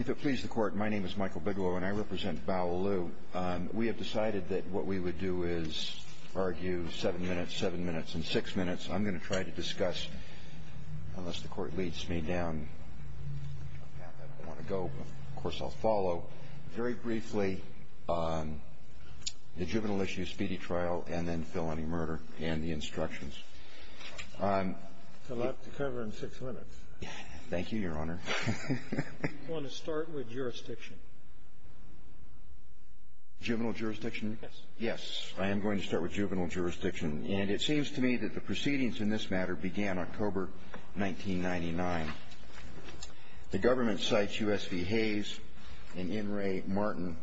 If it please the court, my name is Michael Bigelow and I represent Bao Lu. We have decided that what we would do is argue seven minutes, seven minutes and six minutes. I'm going to try to discuss, unless the court leads me down a path I don't want to go, of course I'll follow. Very briefly, the juvenile issue speedy trial and then felony murder and the six minutes. Thank you, Your Honor. Do you want to start with jurisdiction? Juvenile jurisdiction? Yes. Yes. I am going to start with juvenile jurisdiction. And it seems to me that the proceedings in this matter began October 1999. The government cites U.S. v. Hayes and N. Ray Martin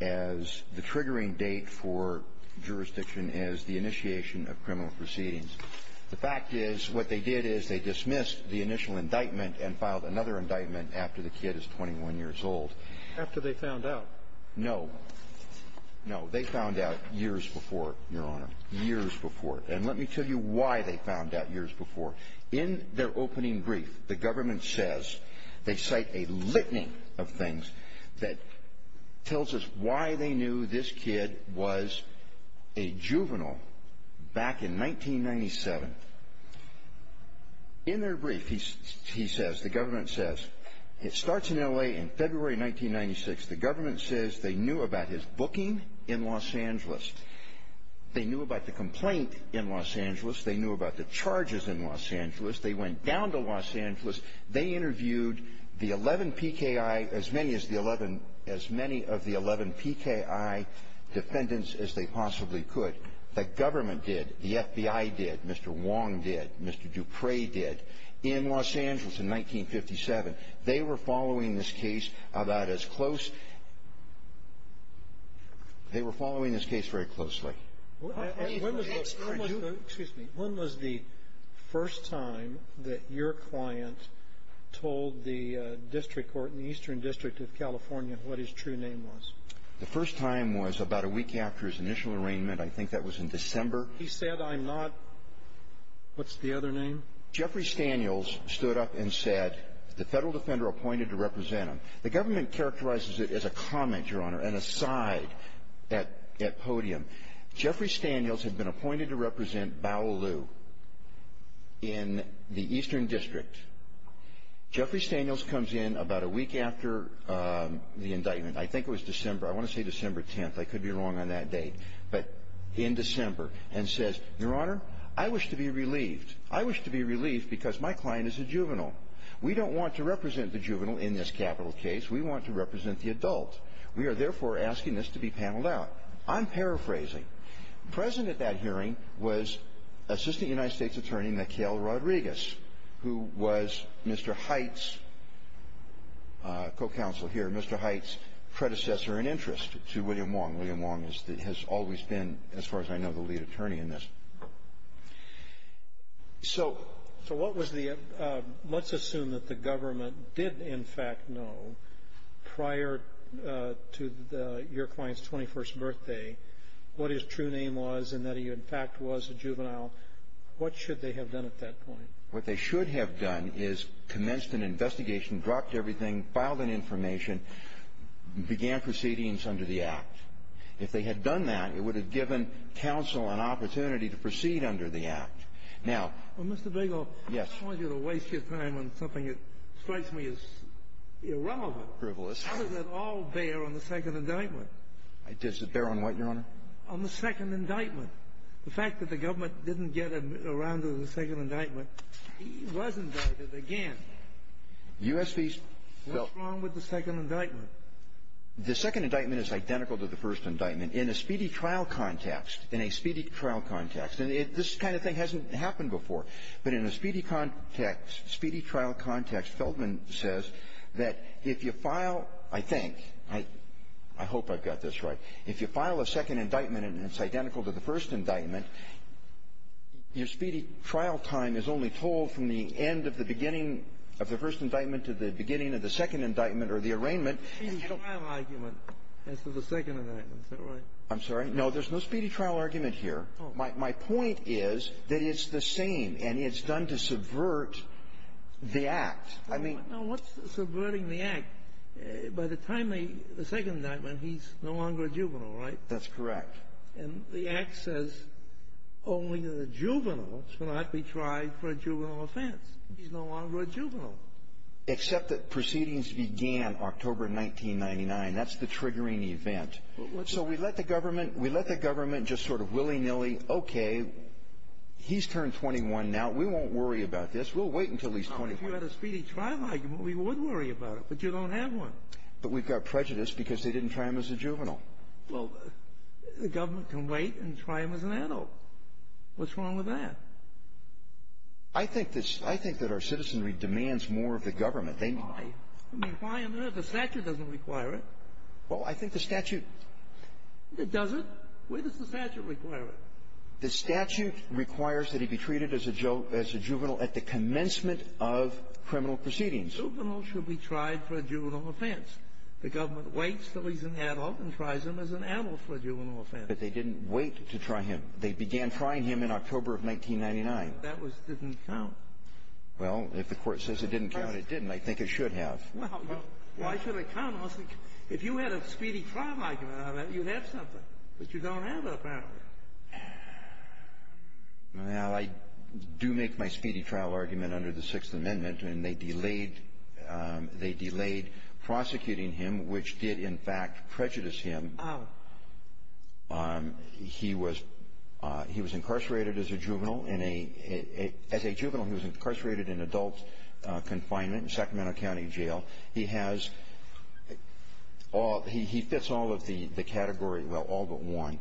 as the triggering date for jurisdiction as the initiation of criminal proceedings. The fact is, what they did is they dismissed the initial indictment and filed another indictment after the kid is 21 years old. After they found out? No. No. They found out years before, Your Honor. Years before. And let me tell you why they found out years before. In their opening brief, the government says they cite a litany of things that tells us why they knew this kid was a juvenile back in 1997. In their brief, he says, the government says, it starts in L.A. in February 1996. The government says they knew about his booking in Los Angeles. They knew about the complaint in Los Angeles. They knew about the charges in Los Angeles. They went down to Los Angeles. They interviewed the 11 PKI, as many as the 11 as many of the 11 PKI defendants as they possibly could. The government did. The FBI did. Mr. Wong did. Mr. Dupre did. In Los Angeles in 1957, they were following this case about as close they were following this case very closely. Excuse me. When was the first time that your client told the district court in the Eastern District of California what his true name was? The first time was about a week after his initial arraignment. I think that was in December. He said, I'm not. What's the other name? Jeffrey Staniels stood up and said, the federal defender appointed to represent him. The government characterizes it as a comment, Your Honor, an aside at podium. Jeffrey Staniels had been appointed to represent Bao Liu in the Eastern District. Jeffrey Staniels comes in about a week after the indictment. I think it was December. I want to say December 10th. I could be wrong on that date. But in December, and says, Your Honor, I wish to be relieved. I wish to be relieved because my client is a juvenile. We don't want to represent the juvenile in this capital case. We want to represent the adult. We are, therefore, asking this to be paneled out. I'm paraphrasing. Present at that hearing was Assistant United States Attorney Mikhail Rodriguez, who was Mr. Hite's co-counsel here, Mr. Hite's predecessor in interest to William Wong. William Wong has always been, as far as I know, the lead attorney in this. So what was the – let's assume that the government did, in fact, know prior to your client's 21st birthday what his true name was and that he, in fact, was a juvenile. What should they have done at that point? What they should have done is commenced an investigation, dropped everything, filed an information, began proceedings under the Act. If they had done that, it would have given counsel an opportunity to proceed under the Act. Now – Well, Mr. Bigell, I don't want you to waste your time on something that strikes me as irrelevant. Frivolous. How does that all bear on the second indictment? Does it bear on what, Your Honor? On the second indictment. The fact that the government didn't get around to the second indictment, he was indicted again. U.S. v. – well – What's wrong with the second indictment? The second indictment is identical to the first indictment. In a speedy trial context, in a speedy trial context – and this kind of thing hasn't happened before – but in a speedy context, speedy trial context, Feltman says that if you file – I think, I hope I've got this right – if you file a second indictment and it's identical to the first indictment, your speedy trial time is only told from the end of the beginning of the first indictment to the beginning of the second indictment. I'm sorry. No, there's no speedy trial argument here. My point is that it's the same, and it's done to subvert the Act. I mean – Now, what's subverting the Act? By the time the second indictment, he's no longer a juvenile, right? That's correct. And the Act says only the juvenile shall not be tried for a juvenile offense. He's no longer a juvenile. Except that proceedings began October 1999. That's the triggering event. So we let the government – we let the government just sort of willy-nilly, okay, he's turned 21 now. We won't worry about this. We'll wait until he's 21. If you had a speedy trial argument, we would worry about it, but you don't have one. But we've got prejudice because they didn't try him as a juvenile. Well, the government can wait and try him as an adult. What's wrong with that? I think that our citizenry demands more of the government. Why? I mean, why on earth? The statute doesn't require it. Well, I think the statute – It doesn't? Where does the statute require it? The statute requires that he be treated as a juvenile at the commencement of criminal proceedings. A juvenile should be tried for a juvenile offense. The government waits until he's an adult and tries him as an adult for a juvenile offense. But they didn't wait to try him. They began trying him in October of 1999. That didn't count. Well, if the Court says it didn't count, it didn't. I think it should have. Well, why should it count? If you had a speedy trial argument on that, you'd have something. But you don't have it, apparently. Well, I do make my speedy trial argument under the Sixth Amendment, and they delayed prosecuting him, which did, in fact, prejudice him. Oh. He was incarcerated as a juvenile in a – as a juvenile, he was incarcerated in adult confinement in Sacramento County Jail. He has – he fits all of the category – well, all but one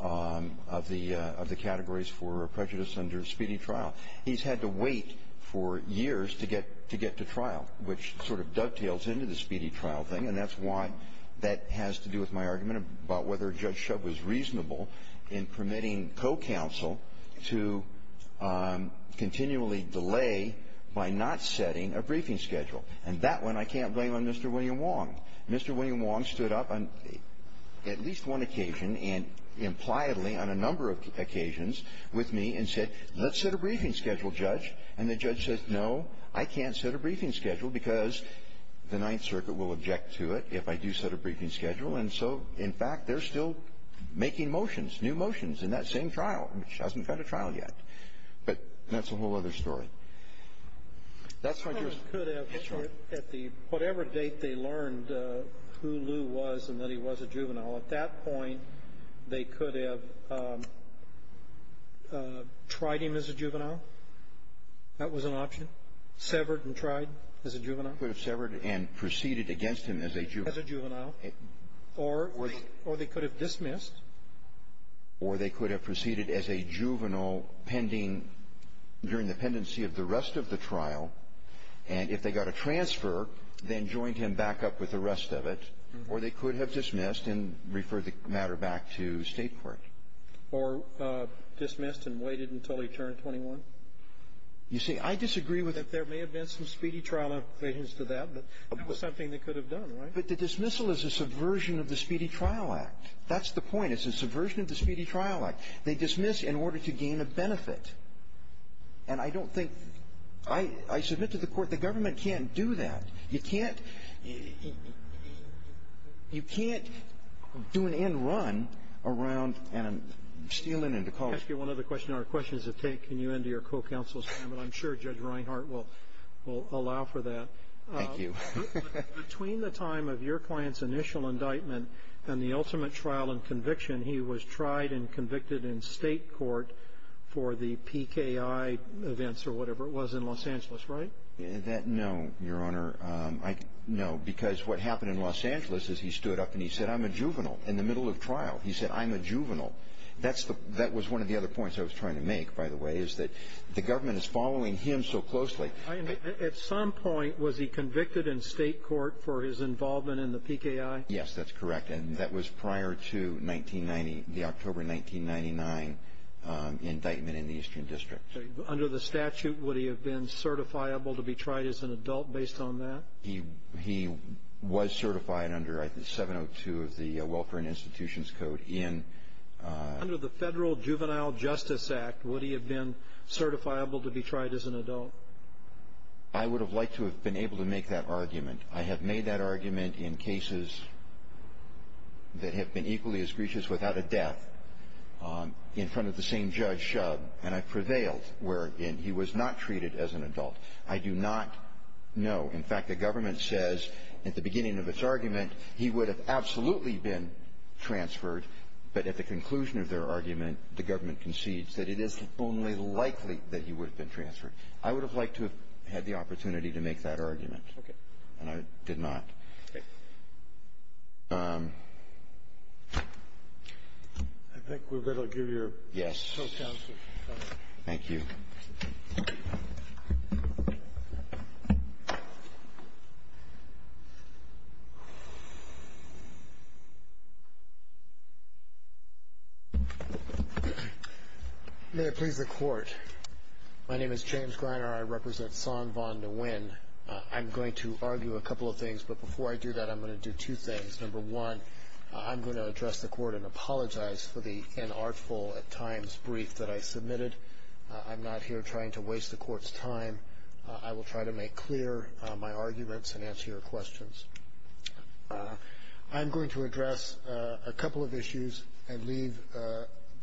of the categories for prejudice under speedy trial. He's had to wait for years to get – to get to trial, which sort of dovetails into the speedy trial thing. And that's why that has to do with my argument about whether Judge Shub was reasonable in permitting co-counsel to continually delay by not setting a briefing schedule. And that one I can't blame on Mr. William Wong. Mr. William Wong stood up on at least one occasion and impliedly on a number of occasions with me and said, let's set a briefing schedule, Judge. And the judge said, no, I can't set a briefing schedule because the Ninth Circuit will object to it if I do set a briefing schedule. And so, in fact, they're still making motions, new motions, in that same trial, which hasn't got a trial yet. But that's a whole other story. That's why – They could have, at the – whatever date they learned who Lew was and that he was a juvenile, at that point they could have tried him as a juvenile. That was an option. Severed and tried as a juvenile. They could have severed and proceeded against him as a juvenile. As a juvenile. Or they could have dismissed. Or they could have proceeded as a juvenile pending – during the pendency of the rest of the trial. And if they got a transfer, then joined him back up with the rest of it. Or they could have dismissed and referred the matter back to State court. Or dismissed and waited until he turned 21. You see, I disagree with – There may have been some speedy trial in relation to that, but it was something they could have done, right? But the dismissal is a subversion of the Speedy Trial Act. That's the point. It's a subversion of the Speedy Trial Act. They dismiss in order to gain a benefit. And I don't think – I submit to the court the government can't do that. You can't – you can't do an end run around and steal into college. Can I ask you one other question? Our questions have taken you into your co-counsel's time, and I'm sure Judge Reinhart will allow for that. Thank you. Between the time of your client's initial indictment and the ultimate trial and conviction, he was tried and convicted in State court for the PKI events or whatever it was in Los Angeles, right? No, Your Honor. No, because what happened in Los Angeles is he stood up and he said, I'm a juvenile in the middle of trial. He said, I'm a juvenile. That was one of the other points I was trying to make, by the way, is that the government is following him so closely. At some point, was he convicted in State court for his involvement in the PKI? Yes, that's correct. And that was prior to 1990 – the October 1999 indictment in the Eastern District. Under the statute, would he have been certifiable to be tried as an adult based on that? He was certified under 702 of the Welfare and Institutions Code in – I would have liked to have been able to make that argument. I have made that argument in cases that have been equally as grievous without a death in front of the same judge, and I've prevailed wherein he was not treated as an adult. I do not know. In fact, the government says at the beginning of its argument he would have absolutely been transferred, but at the conclusion of their argument, the government concedes that it is only likely that he would have been transferred. I would have liked to have had the opportunity to make that argument. Okay. And I did not. Okay. I think we're going to give your – Yes. Thank you. May it please the Court. My name is James Greiner. I represent San Von De Win. I'm going to argue a couple of things, but before I do that, I'm going to do two things. Number one, I'm going to address the Court and apologize for the inartful at times brief that I submitted. I'm not here trying to waste the Court's time. I will try to make clear my arguments and answer your questions. I'm going to address a couple of issues and leave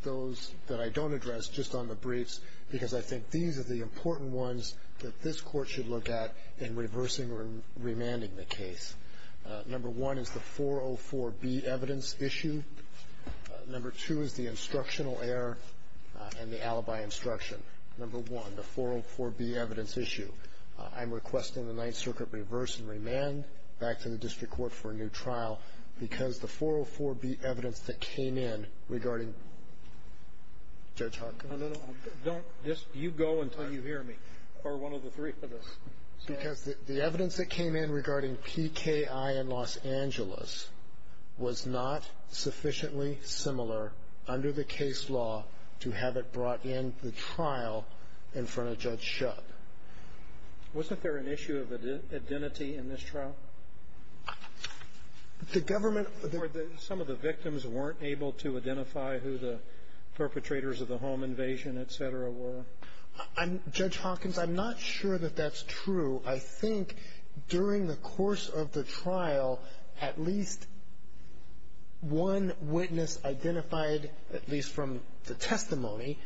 those that I don't address just on the briefs because I think these are the important ones that this Court should look at in reversing or remanding the case. Number one is the 404B evidence issue. Number two is the instructional error and the alibi instruction. Number one, the 404B evidence issue. I'm requesting the Ninth Circuit reverse and remand back to the district court for a new trial because the 404B evidence that came in regarding – Judge Hawkins. No, no, no. Don't – you go until you hear me or one of the three of us. Because the evidence that came in regarding PKI in Los Angeles was not sufficiently similar under the case law to have it brought in the trial in front of Judge Shutt. Wasn't there an issue of identity in this trial? The government – Or some of the victims weren't able to identify who the perpetrators of the home invasion, et cetera, were. Judge Hawkins, I'm not sure that that's true. I think during the course of the trial, at least one witness identified, at least from the testimony,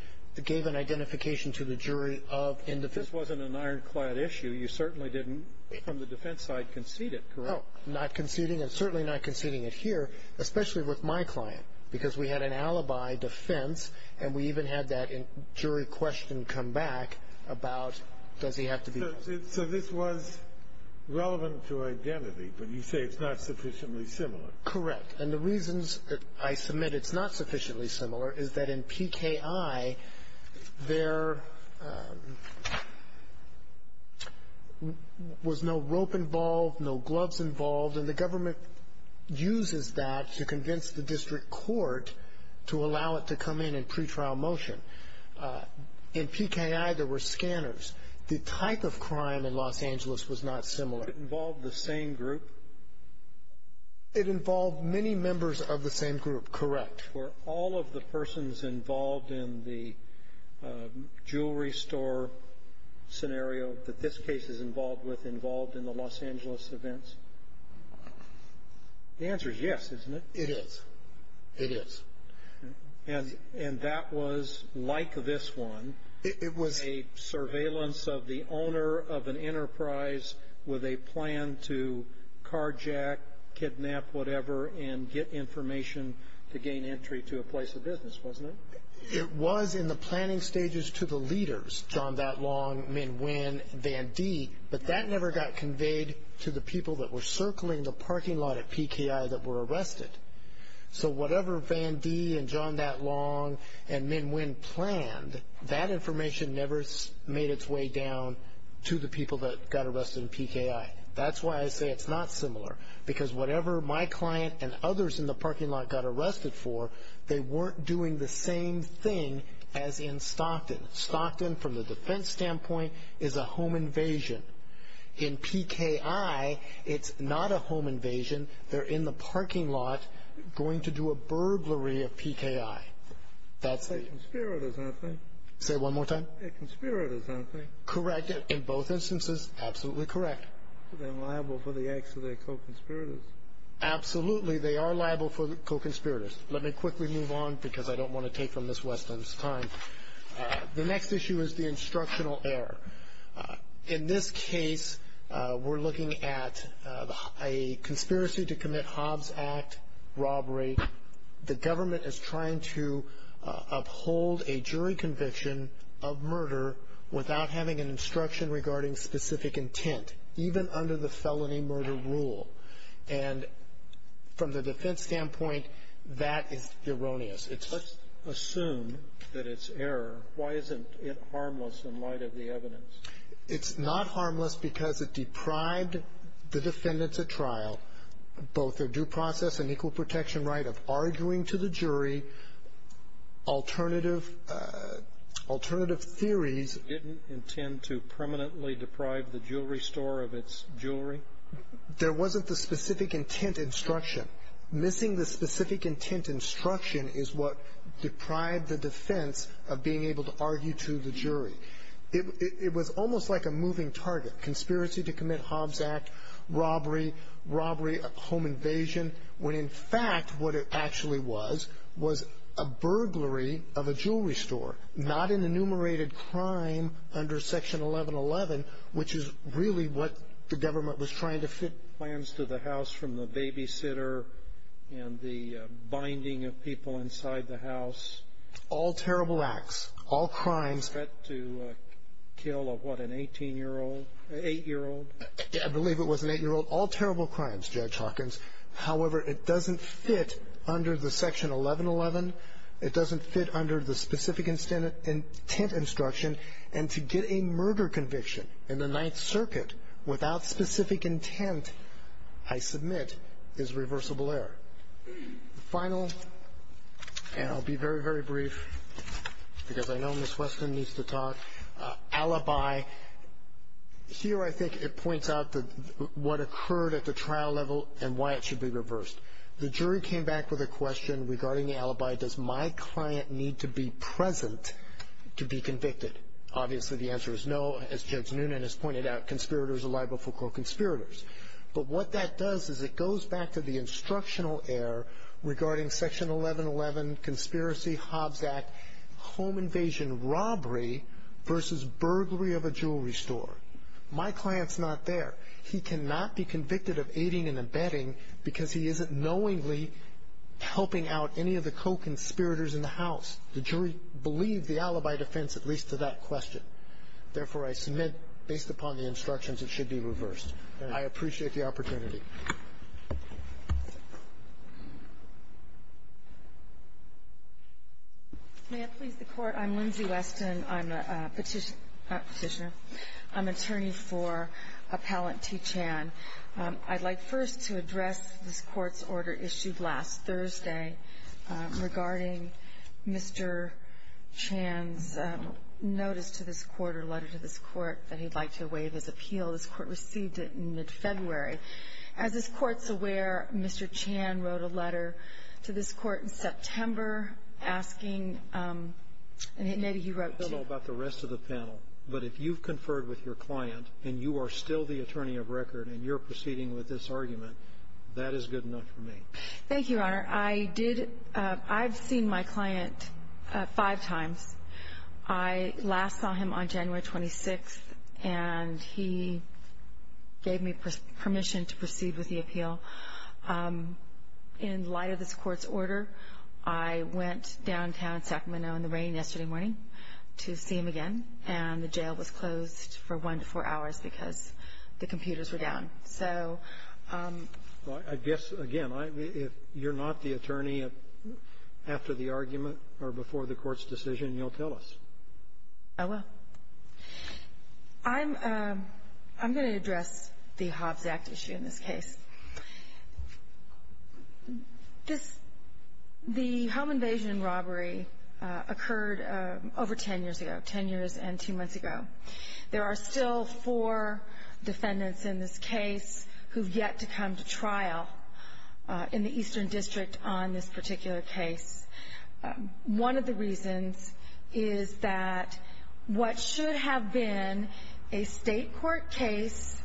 gave an identification to the jury of individuals. This wasn't an ironclad issue. You certainly didn't, from the defense side, concede it, correct? No, not conceding and certainly not conceding it here, especially with my client, because we had an alibi defense and we even had that jury question come back about does he have to be – So this was relevant to identity, but you say it's not sufficiently similar. Correct. And the reasons that I submit it's not sufficiently similar is that in PKI, there was no rope involved, no gloves involved, and the government uses that to convince the district court to allow it to come in in pretrial motion. In PKI, there were scanners. The type of crime in Los Angeles was not similar. But it involved the same group? It involved many members of the same group, correct. Were all of the persons involved in the jewelry store scenario that this case is involved with involved in the Los Angeles events? The answer is yes, isn't it? It is. It is. And that was, like this one, a surveillance of the owner of an enterprise with a plan to carjack, kidnap whatever, and get information to gain entry to a place of business, wasn't it? It was in the planning stages to the leaders, John Thatlong, Minh Nguyen, Van D, but that never got conveyed to the people that were circling the parking lot at PKI that were arrested. So whatever Van D and John Thatlong and Minh Nguyen planned, that information never made its way down to the people that got arrested in PKI. That's why I say it's not similar, because whatever my client and others in the parking lot got arrested for, they weren't doing the same thing as in Stockton. Stockton, from the defense standpoint, is a home invasion. In PKI, it's not a home invasion. They're in the parking lot going to do a burglary of PKI. That's a- They're conspirators, aren't they? Say it one more time. They're conspirators, aren't they? Correct. In both instances, absolutely correct. So they're liable for the acts of their co-conspirators? Absolutely. They are liable for co-conspirators. Let me quickly move on, because I don't want to take from Ms. Weston's time. The next issue is the instructional error. In this case, we're looking at a conspiracy to commit Hobbs Act robbery. The government is trying to uphold a jury conviction of murder without having an instruction regarding specific intent, even under the felony murder rule. And from the defense standpoint, that is erroneous. Let's assume that it's error. Why isn't it harmless in light of the evidence? It's not harmless because it deprived the defendants at trial both their due process and equal protection right of arguing to the jury alternative theories. Didn't intend to permanently deprive the jewelry store of its jewelry? There wasn't the specific intent instruction. Missing the specific intent instruction is what deprived the defense of being able to argue to the jury. It was almost like a moving target. Conspiracy to commit Hobbs Act robbery, robbery, home invasion, when in fact what it actually was was a burglary of a jewelry store, not an enumerated crime under Section 1111, which is really what the government was trying to fit. Plans to the house from the babysitter and the binding of people inside the house. All terrible acts, all crimes. Threat to kill of what, an 18-year-old, 8-year-old? I believe it was an 8-year-old. All terrible crimes, Judge Hawkins. However, it doesn't fit under the Section 1111. It doesn't fit under the specific intent instruction. And to get a murder conviction in the Ninth Circuit without specific intent, I submit, is reversible error. The final, and I'll be very, very brief because I know Miss Weston needs to talk, alibi. Here I think it points out what occurred at the trial level and why it should be reversed. The jury came back with a question regarding the alibi. Does my client need to be present to be convicted? Obviously the answer is no. As Judge Noonan has pointed out, conspirators are liable for co-conspirators. But what that does is it goes back to the instructional error regarding Section 1111, conspiracy, Hobbs Act, home invasion, robbery versus burglary of a jewelry store. My client's not there. He cannot be convicted of aiding and abetting because he isn't knowingly helping out any of the co-conspirators in the house. The jury believed the alibi defense at least to that question. Therefore, I submit, based upon the instructions, it should be reversed. I appreciate the opportunity. Thank you. May I please the Court? I'm Lindsay Weston. I'm a petitioner. I'm an attorney for Appellant T. Chan. I'd like first to address this Court's order issued last Thursday regarding Mr. Chan's notice to this Court or letter to this Court that he'd like to waive his appeal. This Court received it in mid-February. As this Court's aware, Mr. Chan wrote a letter to this Court in September asking and maybe he wrote to you. I don't know about the rest of the panel, but if you've conferred with your client and you are still the attorney of record and you're proceeding with this argument, that is good enough for me. Thank you, Your Honor. I did – I've seen my client five times. I last saw him on January 26th, and he gave me permission to proceed with the appeal. In light of this Court's order, I went downtown Sacramento in the rain yesterday morning to see him again, and the jail was closed for one to four hours because the computers were down. So – Well, I guess, again, if you're not the attorney after the argument or before the Court's decision, you'll tell us. I will. I'm – I'm going to address the Hobbs Act issue in this case. This – the home invasion robbery occurred over ten years ago, ten years and two months ago. There are still four defendants in this case who have yet to come to trial in the Eastern District on this particular case. One of the reasons is that what should have been a state court case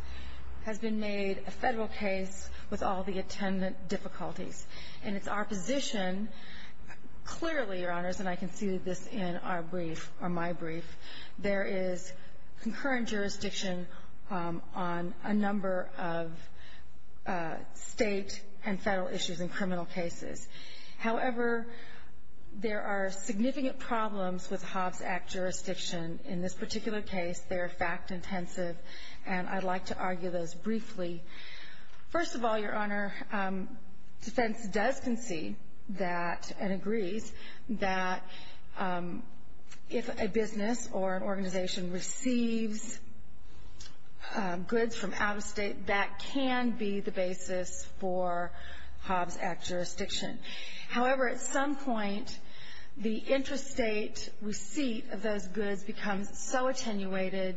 has been made a federal case with all the attendant difficulties. And it's our position – clearly, Your Honors, and I can see this in our brief or my brief, there is concurrent jurisdiction on a number of state and federal issues in criminal cases. However, there are significant problems with Hobbs Act jurisdiction in this particular case. They are fact-intensive, and I'd like to argue those briefly. First of all, Your Honor, defense does concede that, and agrees, that if a business or an organization receives goods from out-of-state, that can be the basis for Hobbs Act jurisdiction. However, at some point, the interstate receipt of those goods becomes so attenuated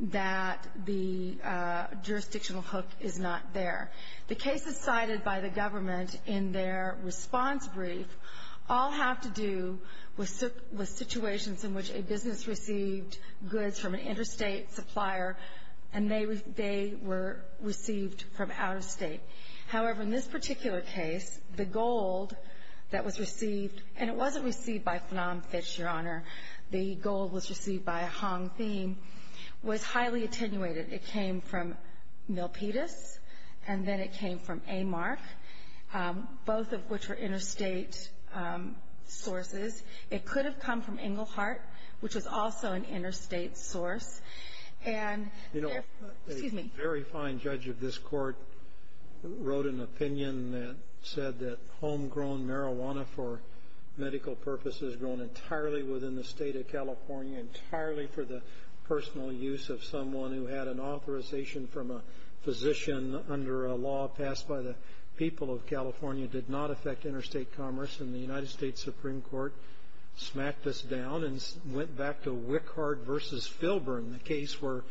that the jurisdictional hook is not there. The cases cited by the government in their response brief all have to do with situations in which a business received goods from an interstate supplier, and they were received from out-of-state. However, in this particular case, the gold that was received – and it wasn't received by Phnom Phich, Your Honor. The gold was received by Hong Thien – was highly attenuated. It came from Milpitas, and then it came from Amark, both of which were interstate sources. It could have come from Englehart, which was also an interstate source. And if – excuse me. A very fine judge of this court wrote an opinion that said that homegrown marijuana for medical purposes grown entirely within the state of California, for the personal use of someone who had an authorization from a physician under a law passed by the people of California, did not affect interstate commerce. And the United States Supreme Court smacked this down and went back to Wickard v. Filburn, the case where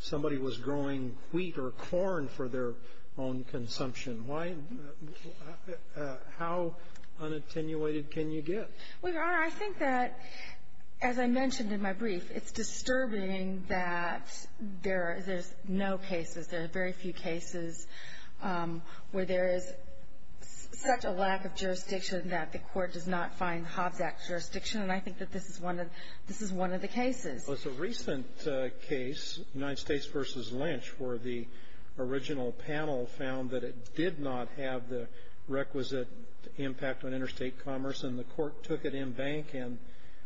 somebody was growing wheat or corn for their own consumption. Why – how unattenuated can you get? Well, Your Honor, I think that, as I mentioned in my brief, it's disturbing that there's no cases. There are very few cases where there is such a lack of jurisdiction that the court does not find Hobbs Act jurisdiction, and I think that this is one of the cases. Well, it's a recent case, United States v. Lynch, where the original panel found that it did not have the requisite impact on interstate commerce, and the court took it in bank and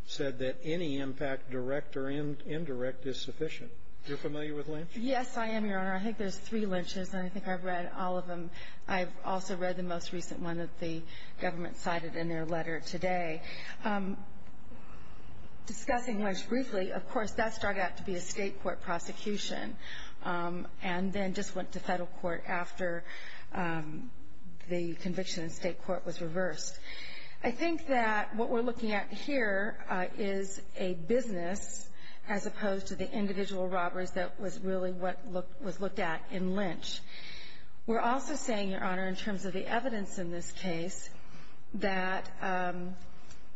said that any impact, direct or indirect, is sufficient. You're familiar with Lynch? Yes, I am, Your Honor. I think there's three Lynches, and I think I've read all of them. I've also read the most recent one that the government cited in their letter today. Discussing Lynch briefly, of course, that started out to be a state court prosecution and then just went to federal court after the conviction in state court was reversed. I think that what we're looking at here is a business as opposed to the individual robbers that was really what was looked at in Lynch. We're also saying, Your Honor, in terms of the evidence in this case, that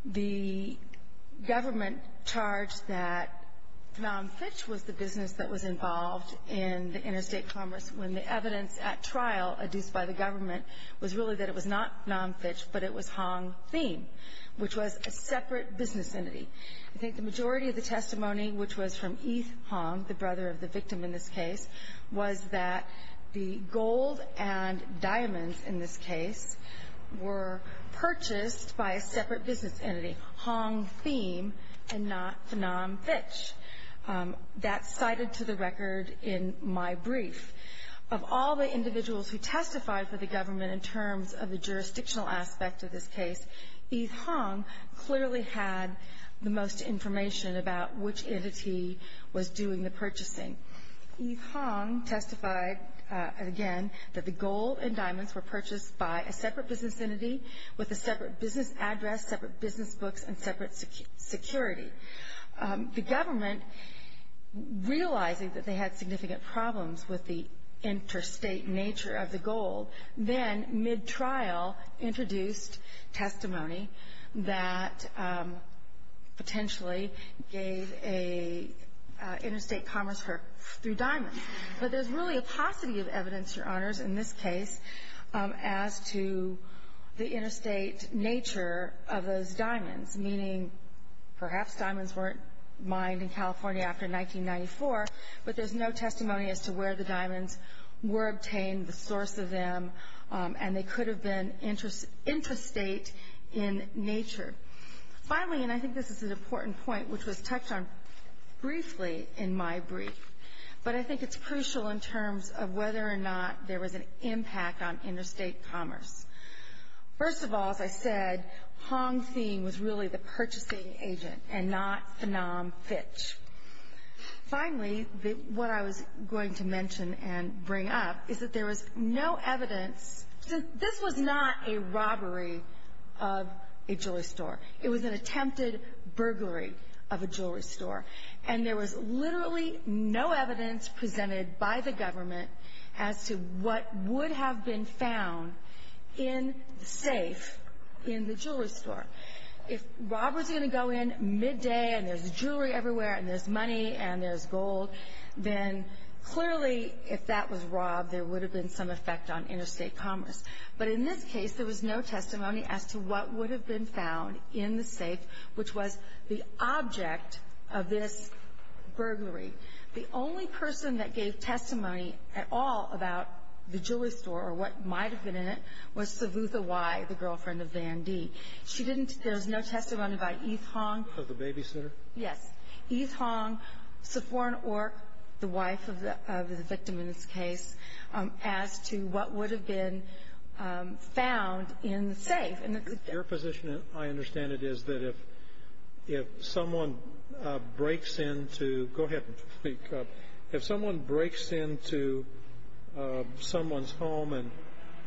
the government charged that nonfitch was the business that was involved in the interstate commerce when the evidence at trial, adduced by the government, was really that it was not nonfitch, but it was Hong Thiem, which was a separate business entity. I think the majority of the testimony, which was from Yves Hong, the brother of the victim in this case, was that the gold and diamonds in this case were purchased by a separate business entity, Hong Thiem and not Phnom Phich. That's cited to the record in my brief. Of all the individuals who testified for the government in terms of the jurisdictional aspect of this case, Yves Hong clearly had the most information about which entity was doing the purchasing. Yves Hong testified, again, that the gold and diamonds were purchased by a separate business entity with a separate business address, separate business books, and separate security. The government, realizing that they had significant problems with the interstate nature of the gold, then, mid-trial, introduced testimony that potentially gave an interstate commerce her through diamonds. But there's really a paucity of evidence, Your Honors, in this case, as to the interstate nature of those diamonds, meaning perhaps diamonds weren't mined in California after 1994, but there's no testimony as to where the diamonds were obtained, the source of them, and they could have been interstate in nature. Finally, and I think this is an important point, which was touched on briefly in my brief, but I think it's crucial in terms of whether or not there was an impact on interstate commerce. First of all, as I said, Hong Thien was really the purchasing agent and not Phnom Phich. Finally, what I was going to mention and bring up is that there was no evidence. This was not a robbery of a jewelry store. It was an attempted burglary of a jewelry store, and there was literally no evidence presented by the government as to what would have been found in the safe in the jewelry store. If Rob was going to go in midday and there's jewelry everywhere and there's money and there's gold, then clearly if that was Rob, there would have been some effect on interstate commerce. But in this case, there was no testimony as to what would have been found in the safe, which was the object of this burglary. The only person that gave testimony at all about the jewelry store or what might have been in it was Savutha Wai, the girlfriend of Van D. There was no testimony by Eve Hong. Of the babysitter? Yes. Eve Hong, Safforn Ork, the wife of the victim in this case, as to what would have been found in the safe. Your position, I understand it, is that if someone breaks into someone's home and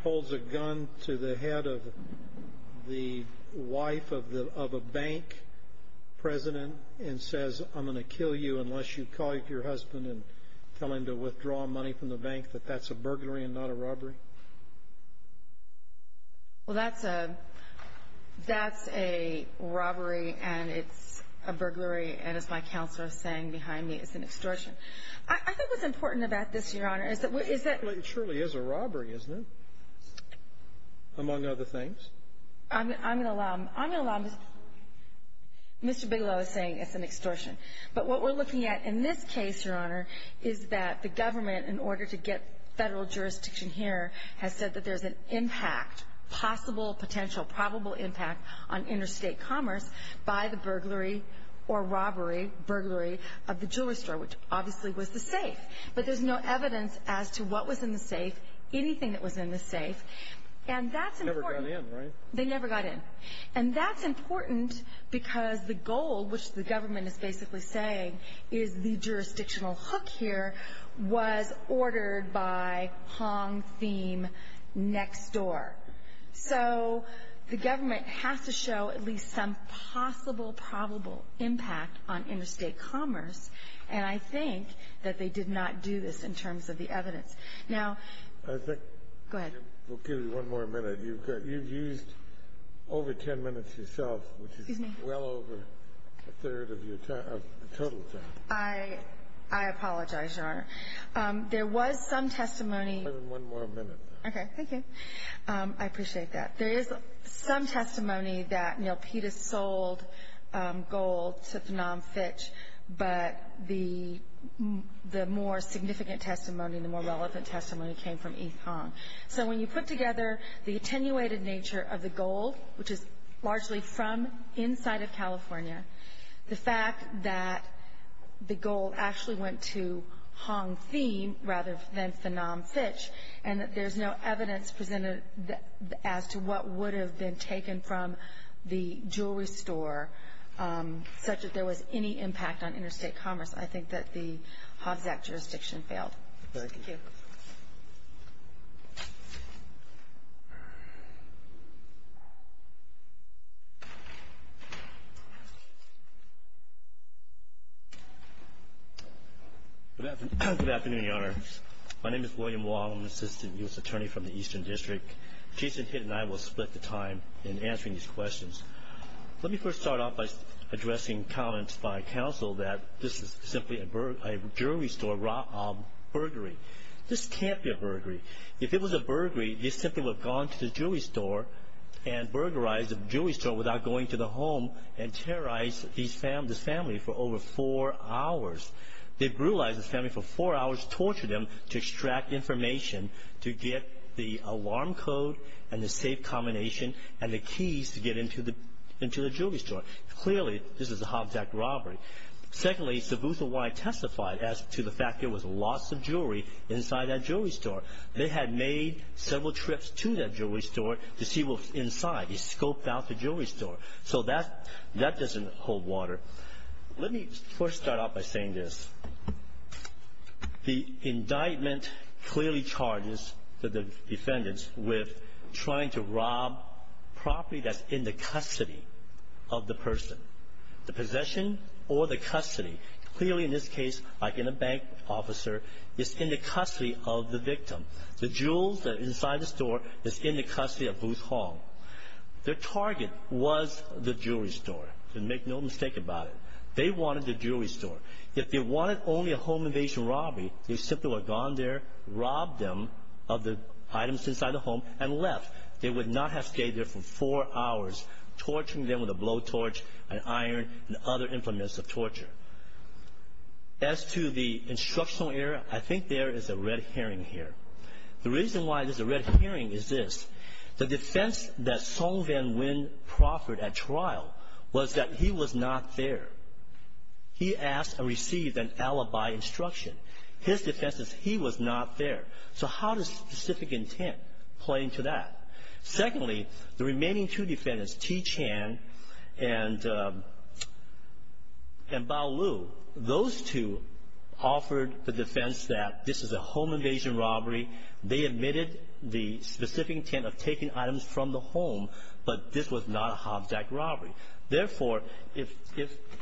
holds a gun to the head of the wife of a bank president and says, I'm going to kill you unless you call your husband and tell him to withdraw money from the bank, that that's a burglary and not a robbery? Well, that's a robbery and it's a burglary, and as my counselor is saying behind me, it's an extortion. I think what's important about this, Your Honor, is that we're — Well, it surely is a robbery, isn't it, among other things? I'm going to allow Mr. Bigelow to say it's an extortion. But what we're looking at in this case, Your Honor, is that the government, in order to get federal jurisdiction here, has said that there's an impact, possible, potential, probable impact, on interstate commerce by the burglary or robbery, burglary of the jewelry store, which obviously was the safe. But there's no evidence as to what was in the safe, anything that was in the safe. And that's important. They never got in, right? They never got in. And that's important because the goal, which the government is basically saying, is the jurisdictional hook here was ordered by Hong Thiem next door. So the government has to show at least some possible, probable impact on interstate commerce, and I think that they did not do this in terms of the evidence. Now — I think — Go ahead. We'll give you one more minute. You've used over 10 minutes yourself, which is well over a third of your total time. I apologize, Your Honor. There was some testimony — We'll give you one more minute. Okay, thank you. I appreciate that. There is some testimony that, you know, PETA sold gold to Phnom Fitch, but the more significant testimony, the more relevant testimony, came from Yves Hong. So when you put together the attenuated nature of the gold, which is largely from inside of California, the fact that the gold actually went to Hong Thiem rather than Phnom Fitch and that there's no evidence presented as to what would have been taken from the jewelry store, such that there was any impact on interstate commerce, I think that the Hobbs Act jurisdiction failed. Thank you. Thank you. Good afternoon, Your Honor. My name is William Wong. I'm an assistant U.S. attorney from the Eastern District. Jason Hitt and I will split the time in answering these questions. Let me first start off by addressing comments by counsel that this is simply a jewelry store burglary. This can't be a burglary. If it was a burglary, they simply would have gone to the jewelry store and burglarized the jewelry store without going to the home and terrorized this family for over four hours. They brutalized this family for four hours, tortured them to extract information to get the alarm code and the safe combination and the keys to get into the jewelry store. Clearly, this is a Hobbs Act robbery. Secondly, Sabuthawai testified as to the fact there was lots of jewelry inside that jewelry store. They had made several trips to that jewelry store to see what was inside. They scoped out the jewelry store. So that doesn't hold water. Let me first start off by saying this. The indictment clearly charges the defendants with trying to rob property that's in the custody of the person. The possession or the custody, clearly in this case, like in a bank officer, is in the custody of the victim. The jewels that are inside the store is in the custody of Booth Hong. Their target was the jewelry store. Make no mistake about it. They wanted the jewelry store. If they wanted only a home invasion robbery, they simply would have gone there, robbed them of the items inside the home, and left. They would not have stayed there for four hours, torturing them with a blowtorch, an iron, and other implements of torture. As to the instructional error, I think there is a red herring here. The reason why there's a red herring is this. The defense that Song Van Nguyen proffered at trial was that he was not there. He asked and received an alibi instruction. His defense is he was not there. So how does specific intent play into that? Secondly, the remaining two defendants, T. Chan and Bao Liu, those two offered the defense that this is a home invasion robbery. They admitted the specific intent of taking items from the home, but this was not a Hobbs Act robbery. Therefore, if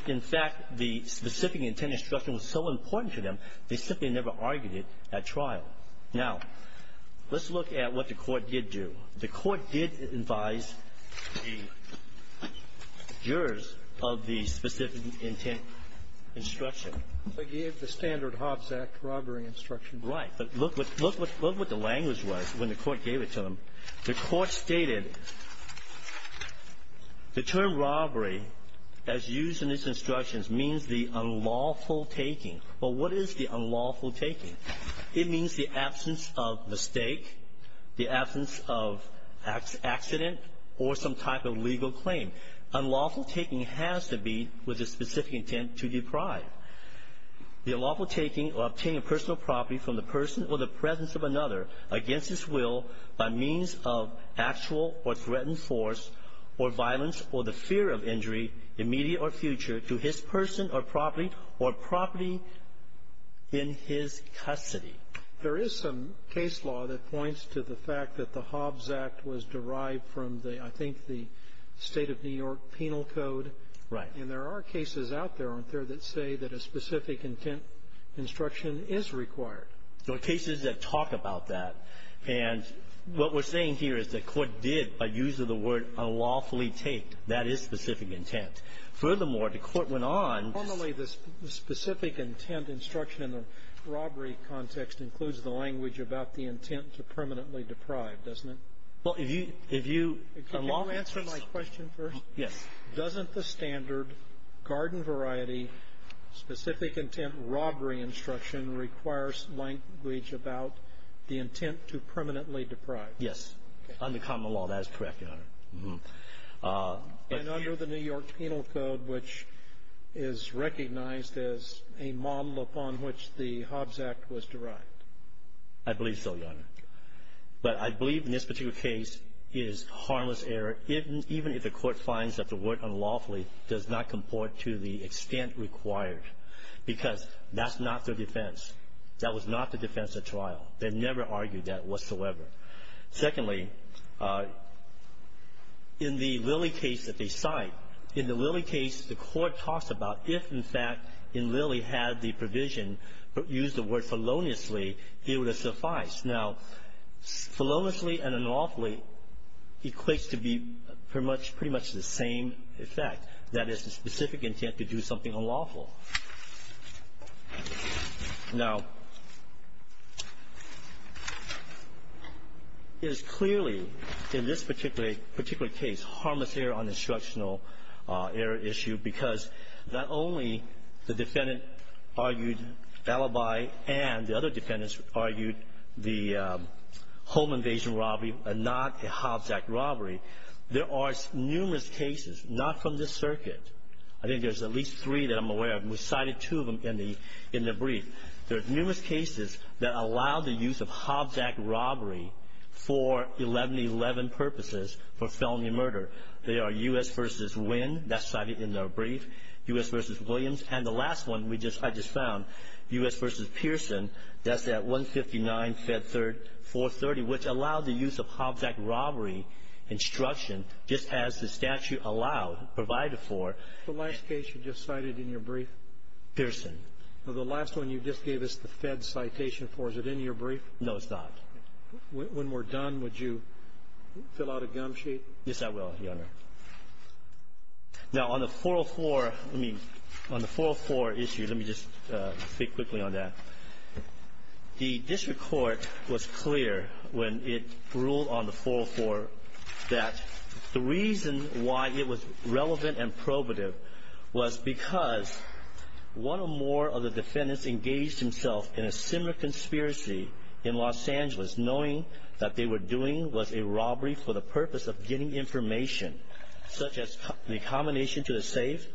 in fact the specific intent instruction was so important to them, they simply never argued it at trial. Now, let's look at what the Court did do. The Court did advise the jurors of the specific intent instruction. They gave the standard Hobbs Act robbery instruction. Right. The Court stated the term robbery, as used in these instructions, means the unlawful taking. Well, what is the unlawful taking? It means the absence of mistake, the absence of accident, or some type of legal claim. Unlawful taking has to be with the specific intent to deprive. The unlawful taking or obtaining of personal property from the person or the presence of another against his will by means of actual or threatened force or violence or the fear of injury, immediate or future, to his person or property or property in his custody. There is some case law that points to the fact that the Hobbs Act was derived from the, I think, the State of New York Penal Code. Right. And there are cases out there, aren't there, that say that a specific intent instruction is required. There are cases that talk about that. And what we're saying here is the Court did, by use of the word, unlawfully take. That is specific intent. Furthermore, the Court went on. Normally, the specific intent instruction in the robbery context includes the language about the intent to permanently deprive, doesn't it? Well, if you – if you – Can you answer my question first? Yes. Doesn't the standard garden variety specific intent robbery instruction require language about the intent to permanently deprive? Yes. Under common law, that is correct, Your Honor. And under the New York Penal Code, which is recognized as a model upon which the Hobbs Act was derived? I believe so, Your Honor. But I believe in this particular case, it is harmless error, even if the Court finds that the word unlawfully does not comport to the extent required, because that's not their defense. That was not the defense at trial. They never argued that whatsoever. Secondly, in the Lilly case that they cite, in the Lilly case, the Court talks about if, in fact, in Lilly had the provision used the word feloniously, it would have sufficed. Now, feloniously and unlawfully equates to be pretty much the same effect. That is, the specific intent to do something unlawful. Now, it is clearly in this particular case harmless error on instructional error issue because not only the defendant argued alibi and the other defendants argued the home invasion robbery and not the Hobbs Act robbery. There are numerous cases, not from this circuit. I think there's at least three that I'm aware of. We cited two of them in the brief. There are numerous cases that allow the use of Hobbs Act robbery for 1111 purposes for felony murder. There are U.S. v. Wynn. That's cited in the brief. U.S. v. Williams. And the last one I just found, U.S. v. Pearson, that's at 159 Fed 430, which allowed the use of Hobbs Act robbery instruction just as the statute allowed, provided for. The last case you just cited in your brief? Pearson. The last one you just gave us the Fed citation for. Is it in your brief? No, it's not. When we're done, would you fill out a gum sheet? Yes, I will, Your Honor. Now, on the 404 issue, let me just speak quickly on that. The district court was clear when it ruled on the 404 that the reason why it was relevant and probative was because one or more of the defendants engaged themselves in a similar conspiracy in Los Angeles, knowing that they were doing was a robbery for the purpose of getting information, such as the combination to a safe,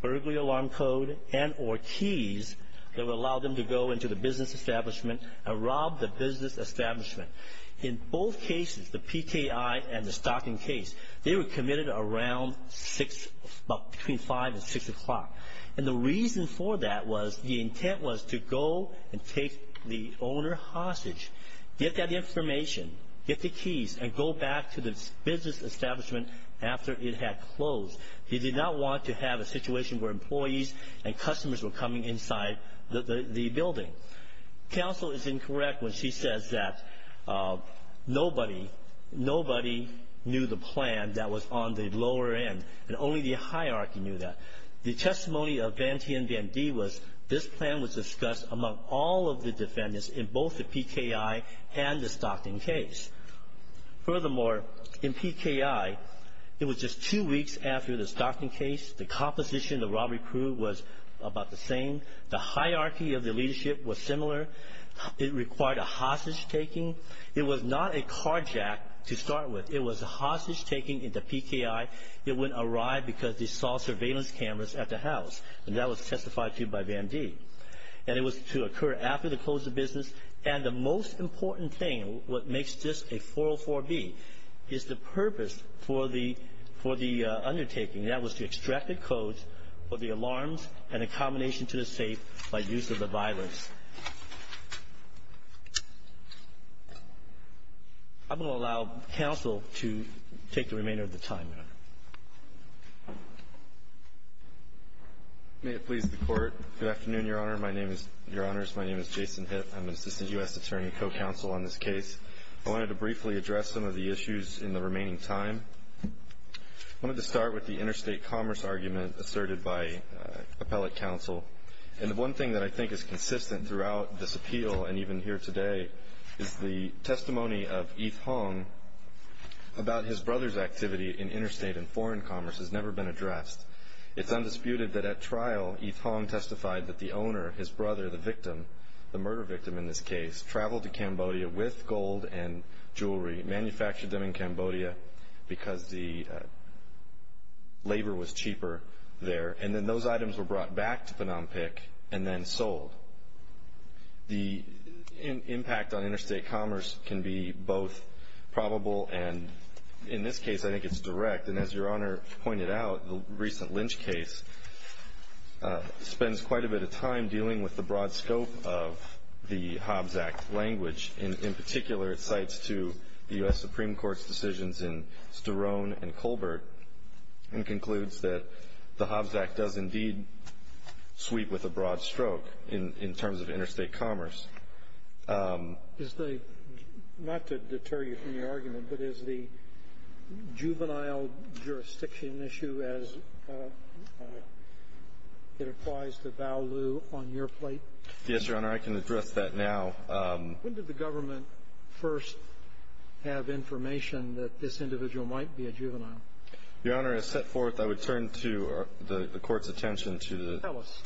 burglary alarm code, and or keys that would allow them to go into the business establishment and rob the business establishment. In both cases, the PKI and the stocking case, they were committed around between 5 and 6 o'clock. And the reason for that was the intent was to go and take the owner hostage, get that information, get the keys, and go back to the business establishment after it had closed. He did not want to have a situation where employees and customers were coming inside the building. Counsel is incorrect when she says that nobody knew the plan that was on the lower end, and only the hierarchy knew that. The testimony of Van Tien Van D was this plan was discussed among all of the defendants in both the PKI and the stocking case. Furthermore, in PKI, it was just two weeks after the stocking case. The composition of the robbery crew was about the same. The hierarchy of the leadership was similar. It required a hostage-taking. It was not a carjack to start with. It was a hostage-taking in the PKI. It wouldn't arrive because they saw surveillance cameras at the house, and that was testified to by Van D. And it was to occur after they closed the business. And the most important thing, what makes this a 404B, is the purpose for the undertaking. That was to extract the codes for the alarms and accommodation to the safe by use of the violence. I'm going to allow counsel to take the remainder of the time, Your Honor. May it please the Court. Good afternoon, Your Honor. My name is Jason Hitt. I'm an assistant U.S. attorney co-counsel on this case. I wanted to briefly address some of the issues in the remaining time. I wanted to start with the interstate commerce argument asserted by appellate counsel. And the one thing that I think is consistent throughout this appeal and even here today is the testimony of Yves Hong about his brother's activity in interstate and foreign commerce has never been addressed. It's undisputed that at trial, Yves Hong testified that the owner, his brother, the victim, the murder victim in this case, traveled to Cambodia with gold and jewelry, manufactured them in Cambodia because the labor was cheaper there. And then those items were brought back to Phnom Penh and then sold. The impact on interstate commerce can be both probable and, in this case, I think it's direct. And as Your Honor pointed out, the recent Lynch case spends quite a bit of time dealing with the broad scope of the Hobbs Act language. In particular, it cites to the U.S. Supreme Court's decisions in Sterone and Colbert and concludes that the Hobbs Act does indeed sweep with a broad stroke in terms of interstate commerce. Is the — not to deter you from your argument, but is the juvenile jurisdiction issue as it applies to Bao Lu on your plate? Yes, Your Honor. I can address that now. When did the government first have information that this individual might be a juvenile? Your Honor, as set forth, I would turn to the Court's attention to the — Tell us.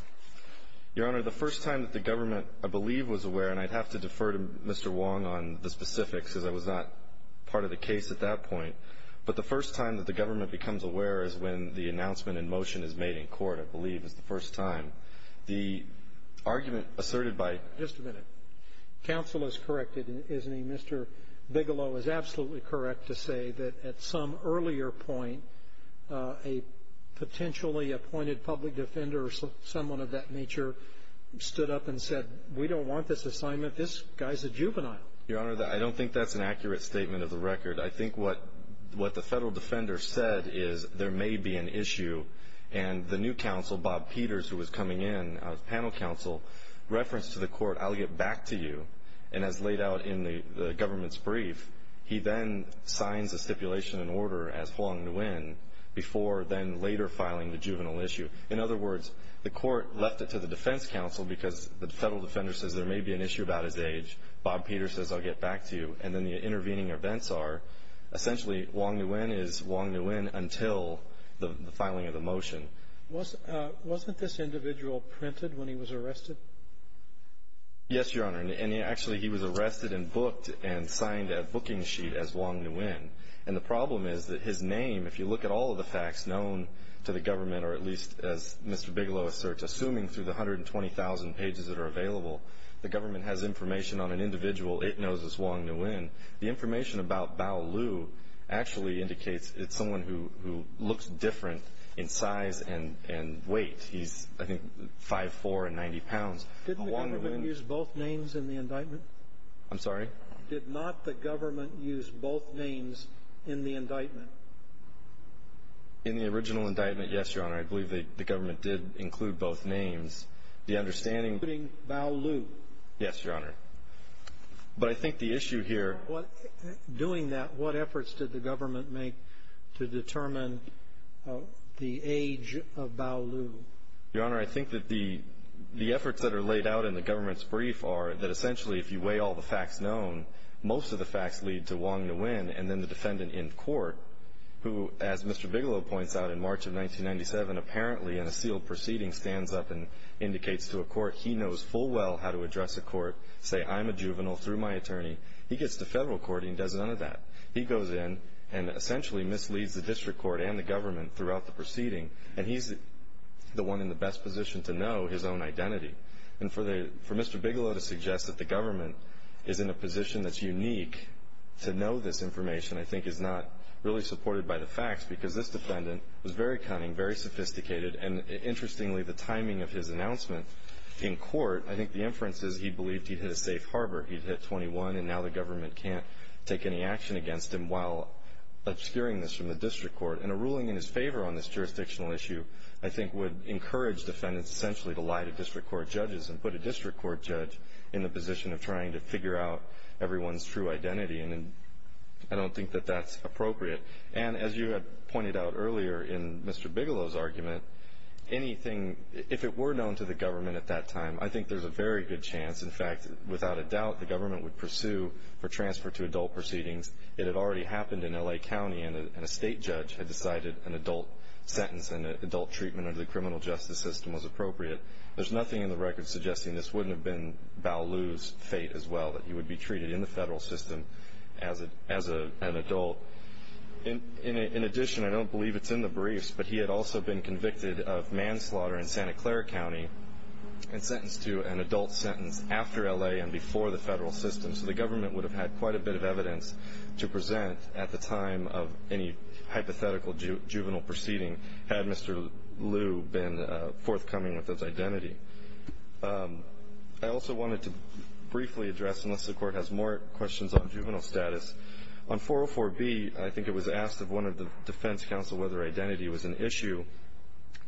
Your Honor, the first time that the government, I believe, was aware, and I'd have to defer to Mr. Wong on the specifics because I was not part of the case at that point. But the first time that the government becomes aware is when the announcement in motion is made in court, I believe, is the first time. The argument asserted by — Just a minute. Counsel is corrected, isn't he? Mr. Bigelow is absolutely correct to say that at some earlier point, a potentially appointed public defender or someone of that nature stood up and said, we don't want this assignment. This guy's a juvenile. Your Honor, I don't think that's an accurate statement of the record. I think what the Federal defender said is there may be an issue, and the new counsel, Bob Peters, who was coming in as panel counsel, referenced to the Court, I'll get back to you, and as laid out in the government's brief, he then signs a stipulation and order as Wong Nguyen before then later filing the juvenile issue. In other words, the Court left it to the defense counsel because the Federal defender says there may be an issue about his age. Bob Peters says, I'll get back to you. And then the intervening events are essentially Wong Nguyen is Wong Nguyen until the filing of the motion. Wasn't this individual printed when he was arrested? Yes, Your Honor. And actually, he was arrested and booked and signed a booking sheet as Wong Nguyen. And the problem is that his name, if you look at all of the facts known to the government or at least, as Mr. Bigelow asserts, assuming through the 120,000 pages that are available, the government has information on an individual it knows as Wong Nguyen. The information about Bao Lu actually indicates it's someone who looks different in size, and weight. He's, I think, 5'4 and 90 pounds. Didn't the government use both names in the indictment? I'm sorry? Did not the government use both names in the indictment? In the original indictment, yes, Your Honor. I believe the government did include both names. The understanding of Bao Lu. Yes, Your Honor. But I think the issue here. Doing that, what efforts did the government make to determine the age of Bao Lu? Your Honor, I think that the efforts that are laid out in the government's brief are that essentially, if you weigh all the facts known, most of the facts lead to Wong Nguyen and then the defendant in court, who, as Mr. Bigelow points out, in March of 1997, apparently in a sealed proceeding, stands up and indicates to a court he knows full well how to address a court, say, I'm a juvenile through my attorney. He gets to federal court and he does none of that. He goes in and essentially misleads the district court and the government throughout the proceeding, and he's the one in the best position to know his own identity. And for Mr. Bigelow to suggest that the government is in a position that's unique to know this information, I think, is not really supported by the facts because this defendant was very cunning, very sophisticated, and interestingly, the timing of his announcement in court, I think the inference is he believed he'd hit a safe harbor. He'd hit 21, and now the government can't take any action against him while obscuring this from the district court. And a ruling in his favor on this jurisdictional issue, I think, would encourage defendants essentially to lie to district court judges and put a district court judge in the position of trying to figure out everyone's true identity, and I don't think that that's appropriate. And as you had pointed out earlier in Mr. Bigelow's argument, anything, if it were known to the government at that time, I think there's a very good chance, in fact, that without a doubt the government would pursue for transfer to adult proceedings. It had already happened in L.A. County, and a state judge had decided an adult sentence and an adult treatment under the criminal justice system was appropriate. There's nothing in the record suggesting this wouldn't have been Ballou's fate as well, that he would be treated in the federal system as an adult. In addition, I don't believe it's in the briefs, but he had also been convicted of manslaughter in Santa Clara County and sentenced to an adult sentence after L.A. and before the federal system, so the government would have had quite a bit of evidence to present at the time of any hypothetical juvenile proceeding had Mr. Lou been forthcoming with his identity. I also wanted to briefly address, unless the Court has more questions on juvenile status, on 404B I think it was asked of one of the defense counsel whether identity was an issue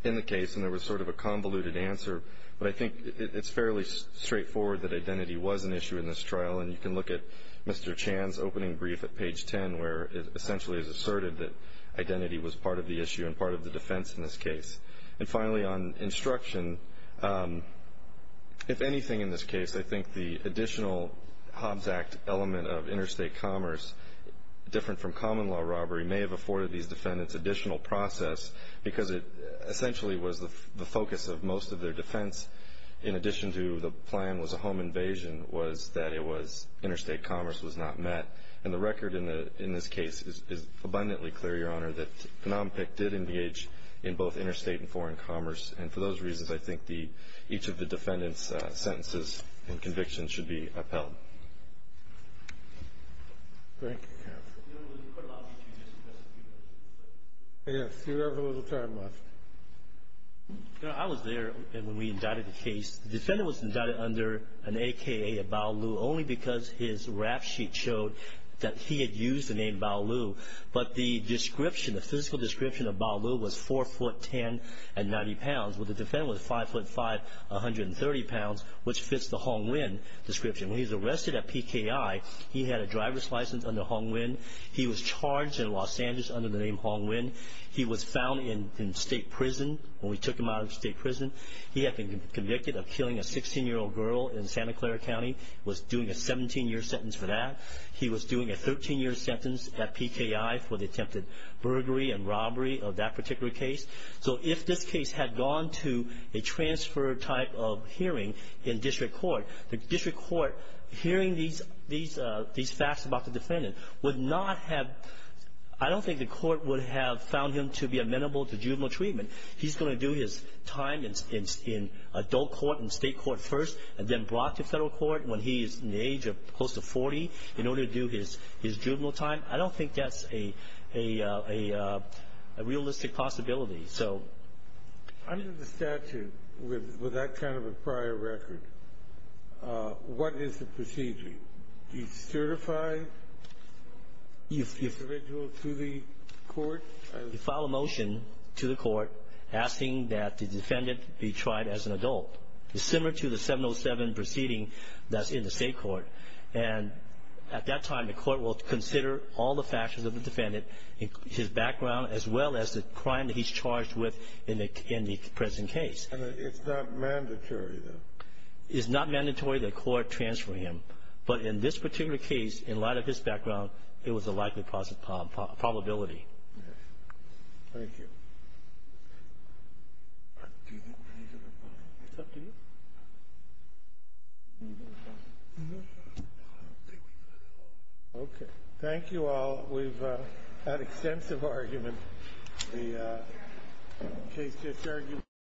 in the case, and there was sort of a convoluted answer, but I think it's fairly straightforward that identity was an issue in this trial, and you can look at Mr. Chan's opening brief at page 10, where it essentially is asserted that identity was part of the issue and part of the defense in this case. And finally, on instruction, if anything in this case, I think the additional Hobbs Act element of interstate commerce, different from common law robbery, may have afforded these defendants additional process because it essentially was the focus of most of their defense, in addition to the plan was a home invasion, was that interstate commerce was not met. And the record in this case is abundantly clear, Your Honor, that NOMPIC did engage in both interstate and foreign commerce, and for those reasons I think each of the defendants' sentences and convictions should be upheld. Thank you, counsel. Yes, you have a little time left. Your Honor, I was there when we indicted the case. The defendant was indicted under an AKA of Bao Lu only because his rap sheet showed that he had used the name Bao Lu, but the description, the physical description of Bao Lu was 4 foot 10 and 90 pounds, while the defendant was 5 foot 5, 130 pounds, which fits the Hong Lin description. When he was arrested at PKI, he had a driver's license under Hong Lin. He was charged in Los Angeles under the name Hong Lin. He was found in state prison when we took him out of state prison. He had been convicted of killing a 16-year-old girl in Santa Clara County, was doing a 17-year sentence for that. He was doing a 13-year sentence at PKI for the attempted burglary and robbery of that particular case. So if this case had gone to a transfer type of hearing in district court, the district court hearing these facts about the defendant would not have – I don't think the court would have found him to be amenable to juvenile treatment. He's going to do his time in adult court and state court first and then brought to Federal court when he is in the age of close to 40 in order to do his juvenile time. I don't think that's a realistic possibility. Under the statute with that kind of a prior record, what is the procedure? Do you certify the individual to the court? You file a motion to the court asking that the defendant be tried as an adult. It's similar to the 707 proceeding that's in the state court. And at that time, the court will consider all the factors of the defendant, his background, as well as the crime that he's charged with in the present case. And it's not mandatory, though? It's not mandatory that the court transfer him. But in this particular case, in light of his background, it was a likely probability. Yes. Thank you. Okay. Thank you all. We've had extensive argument. The case just argued.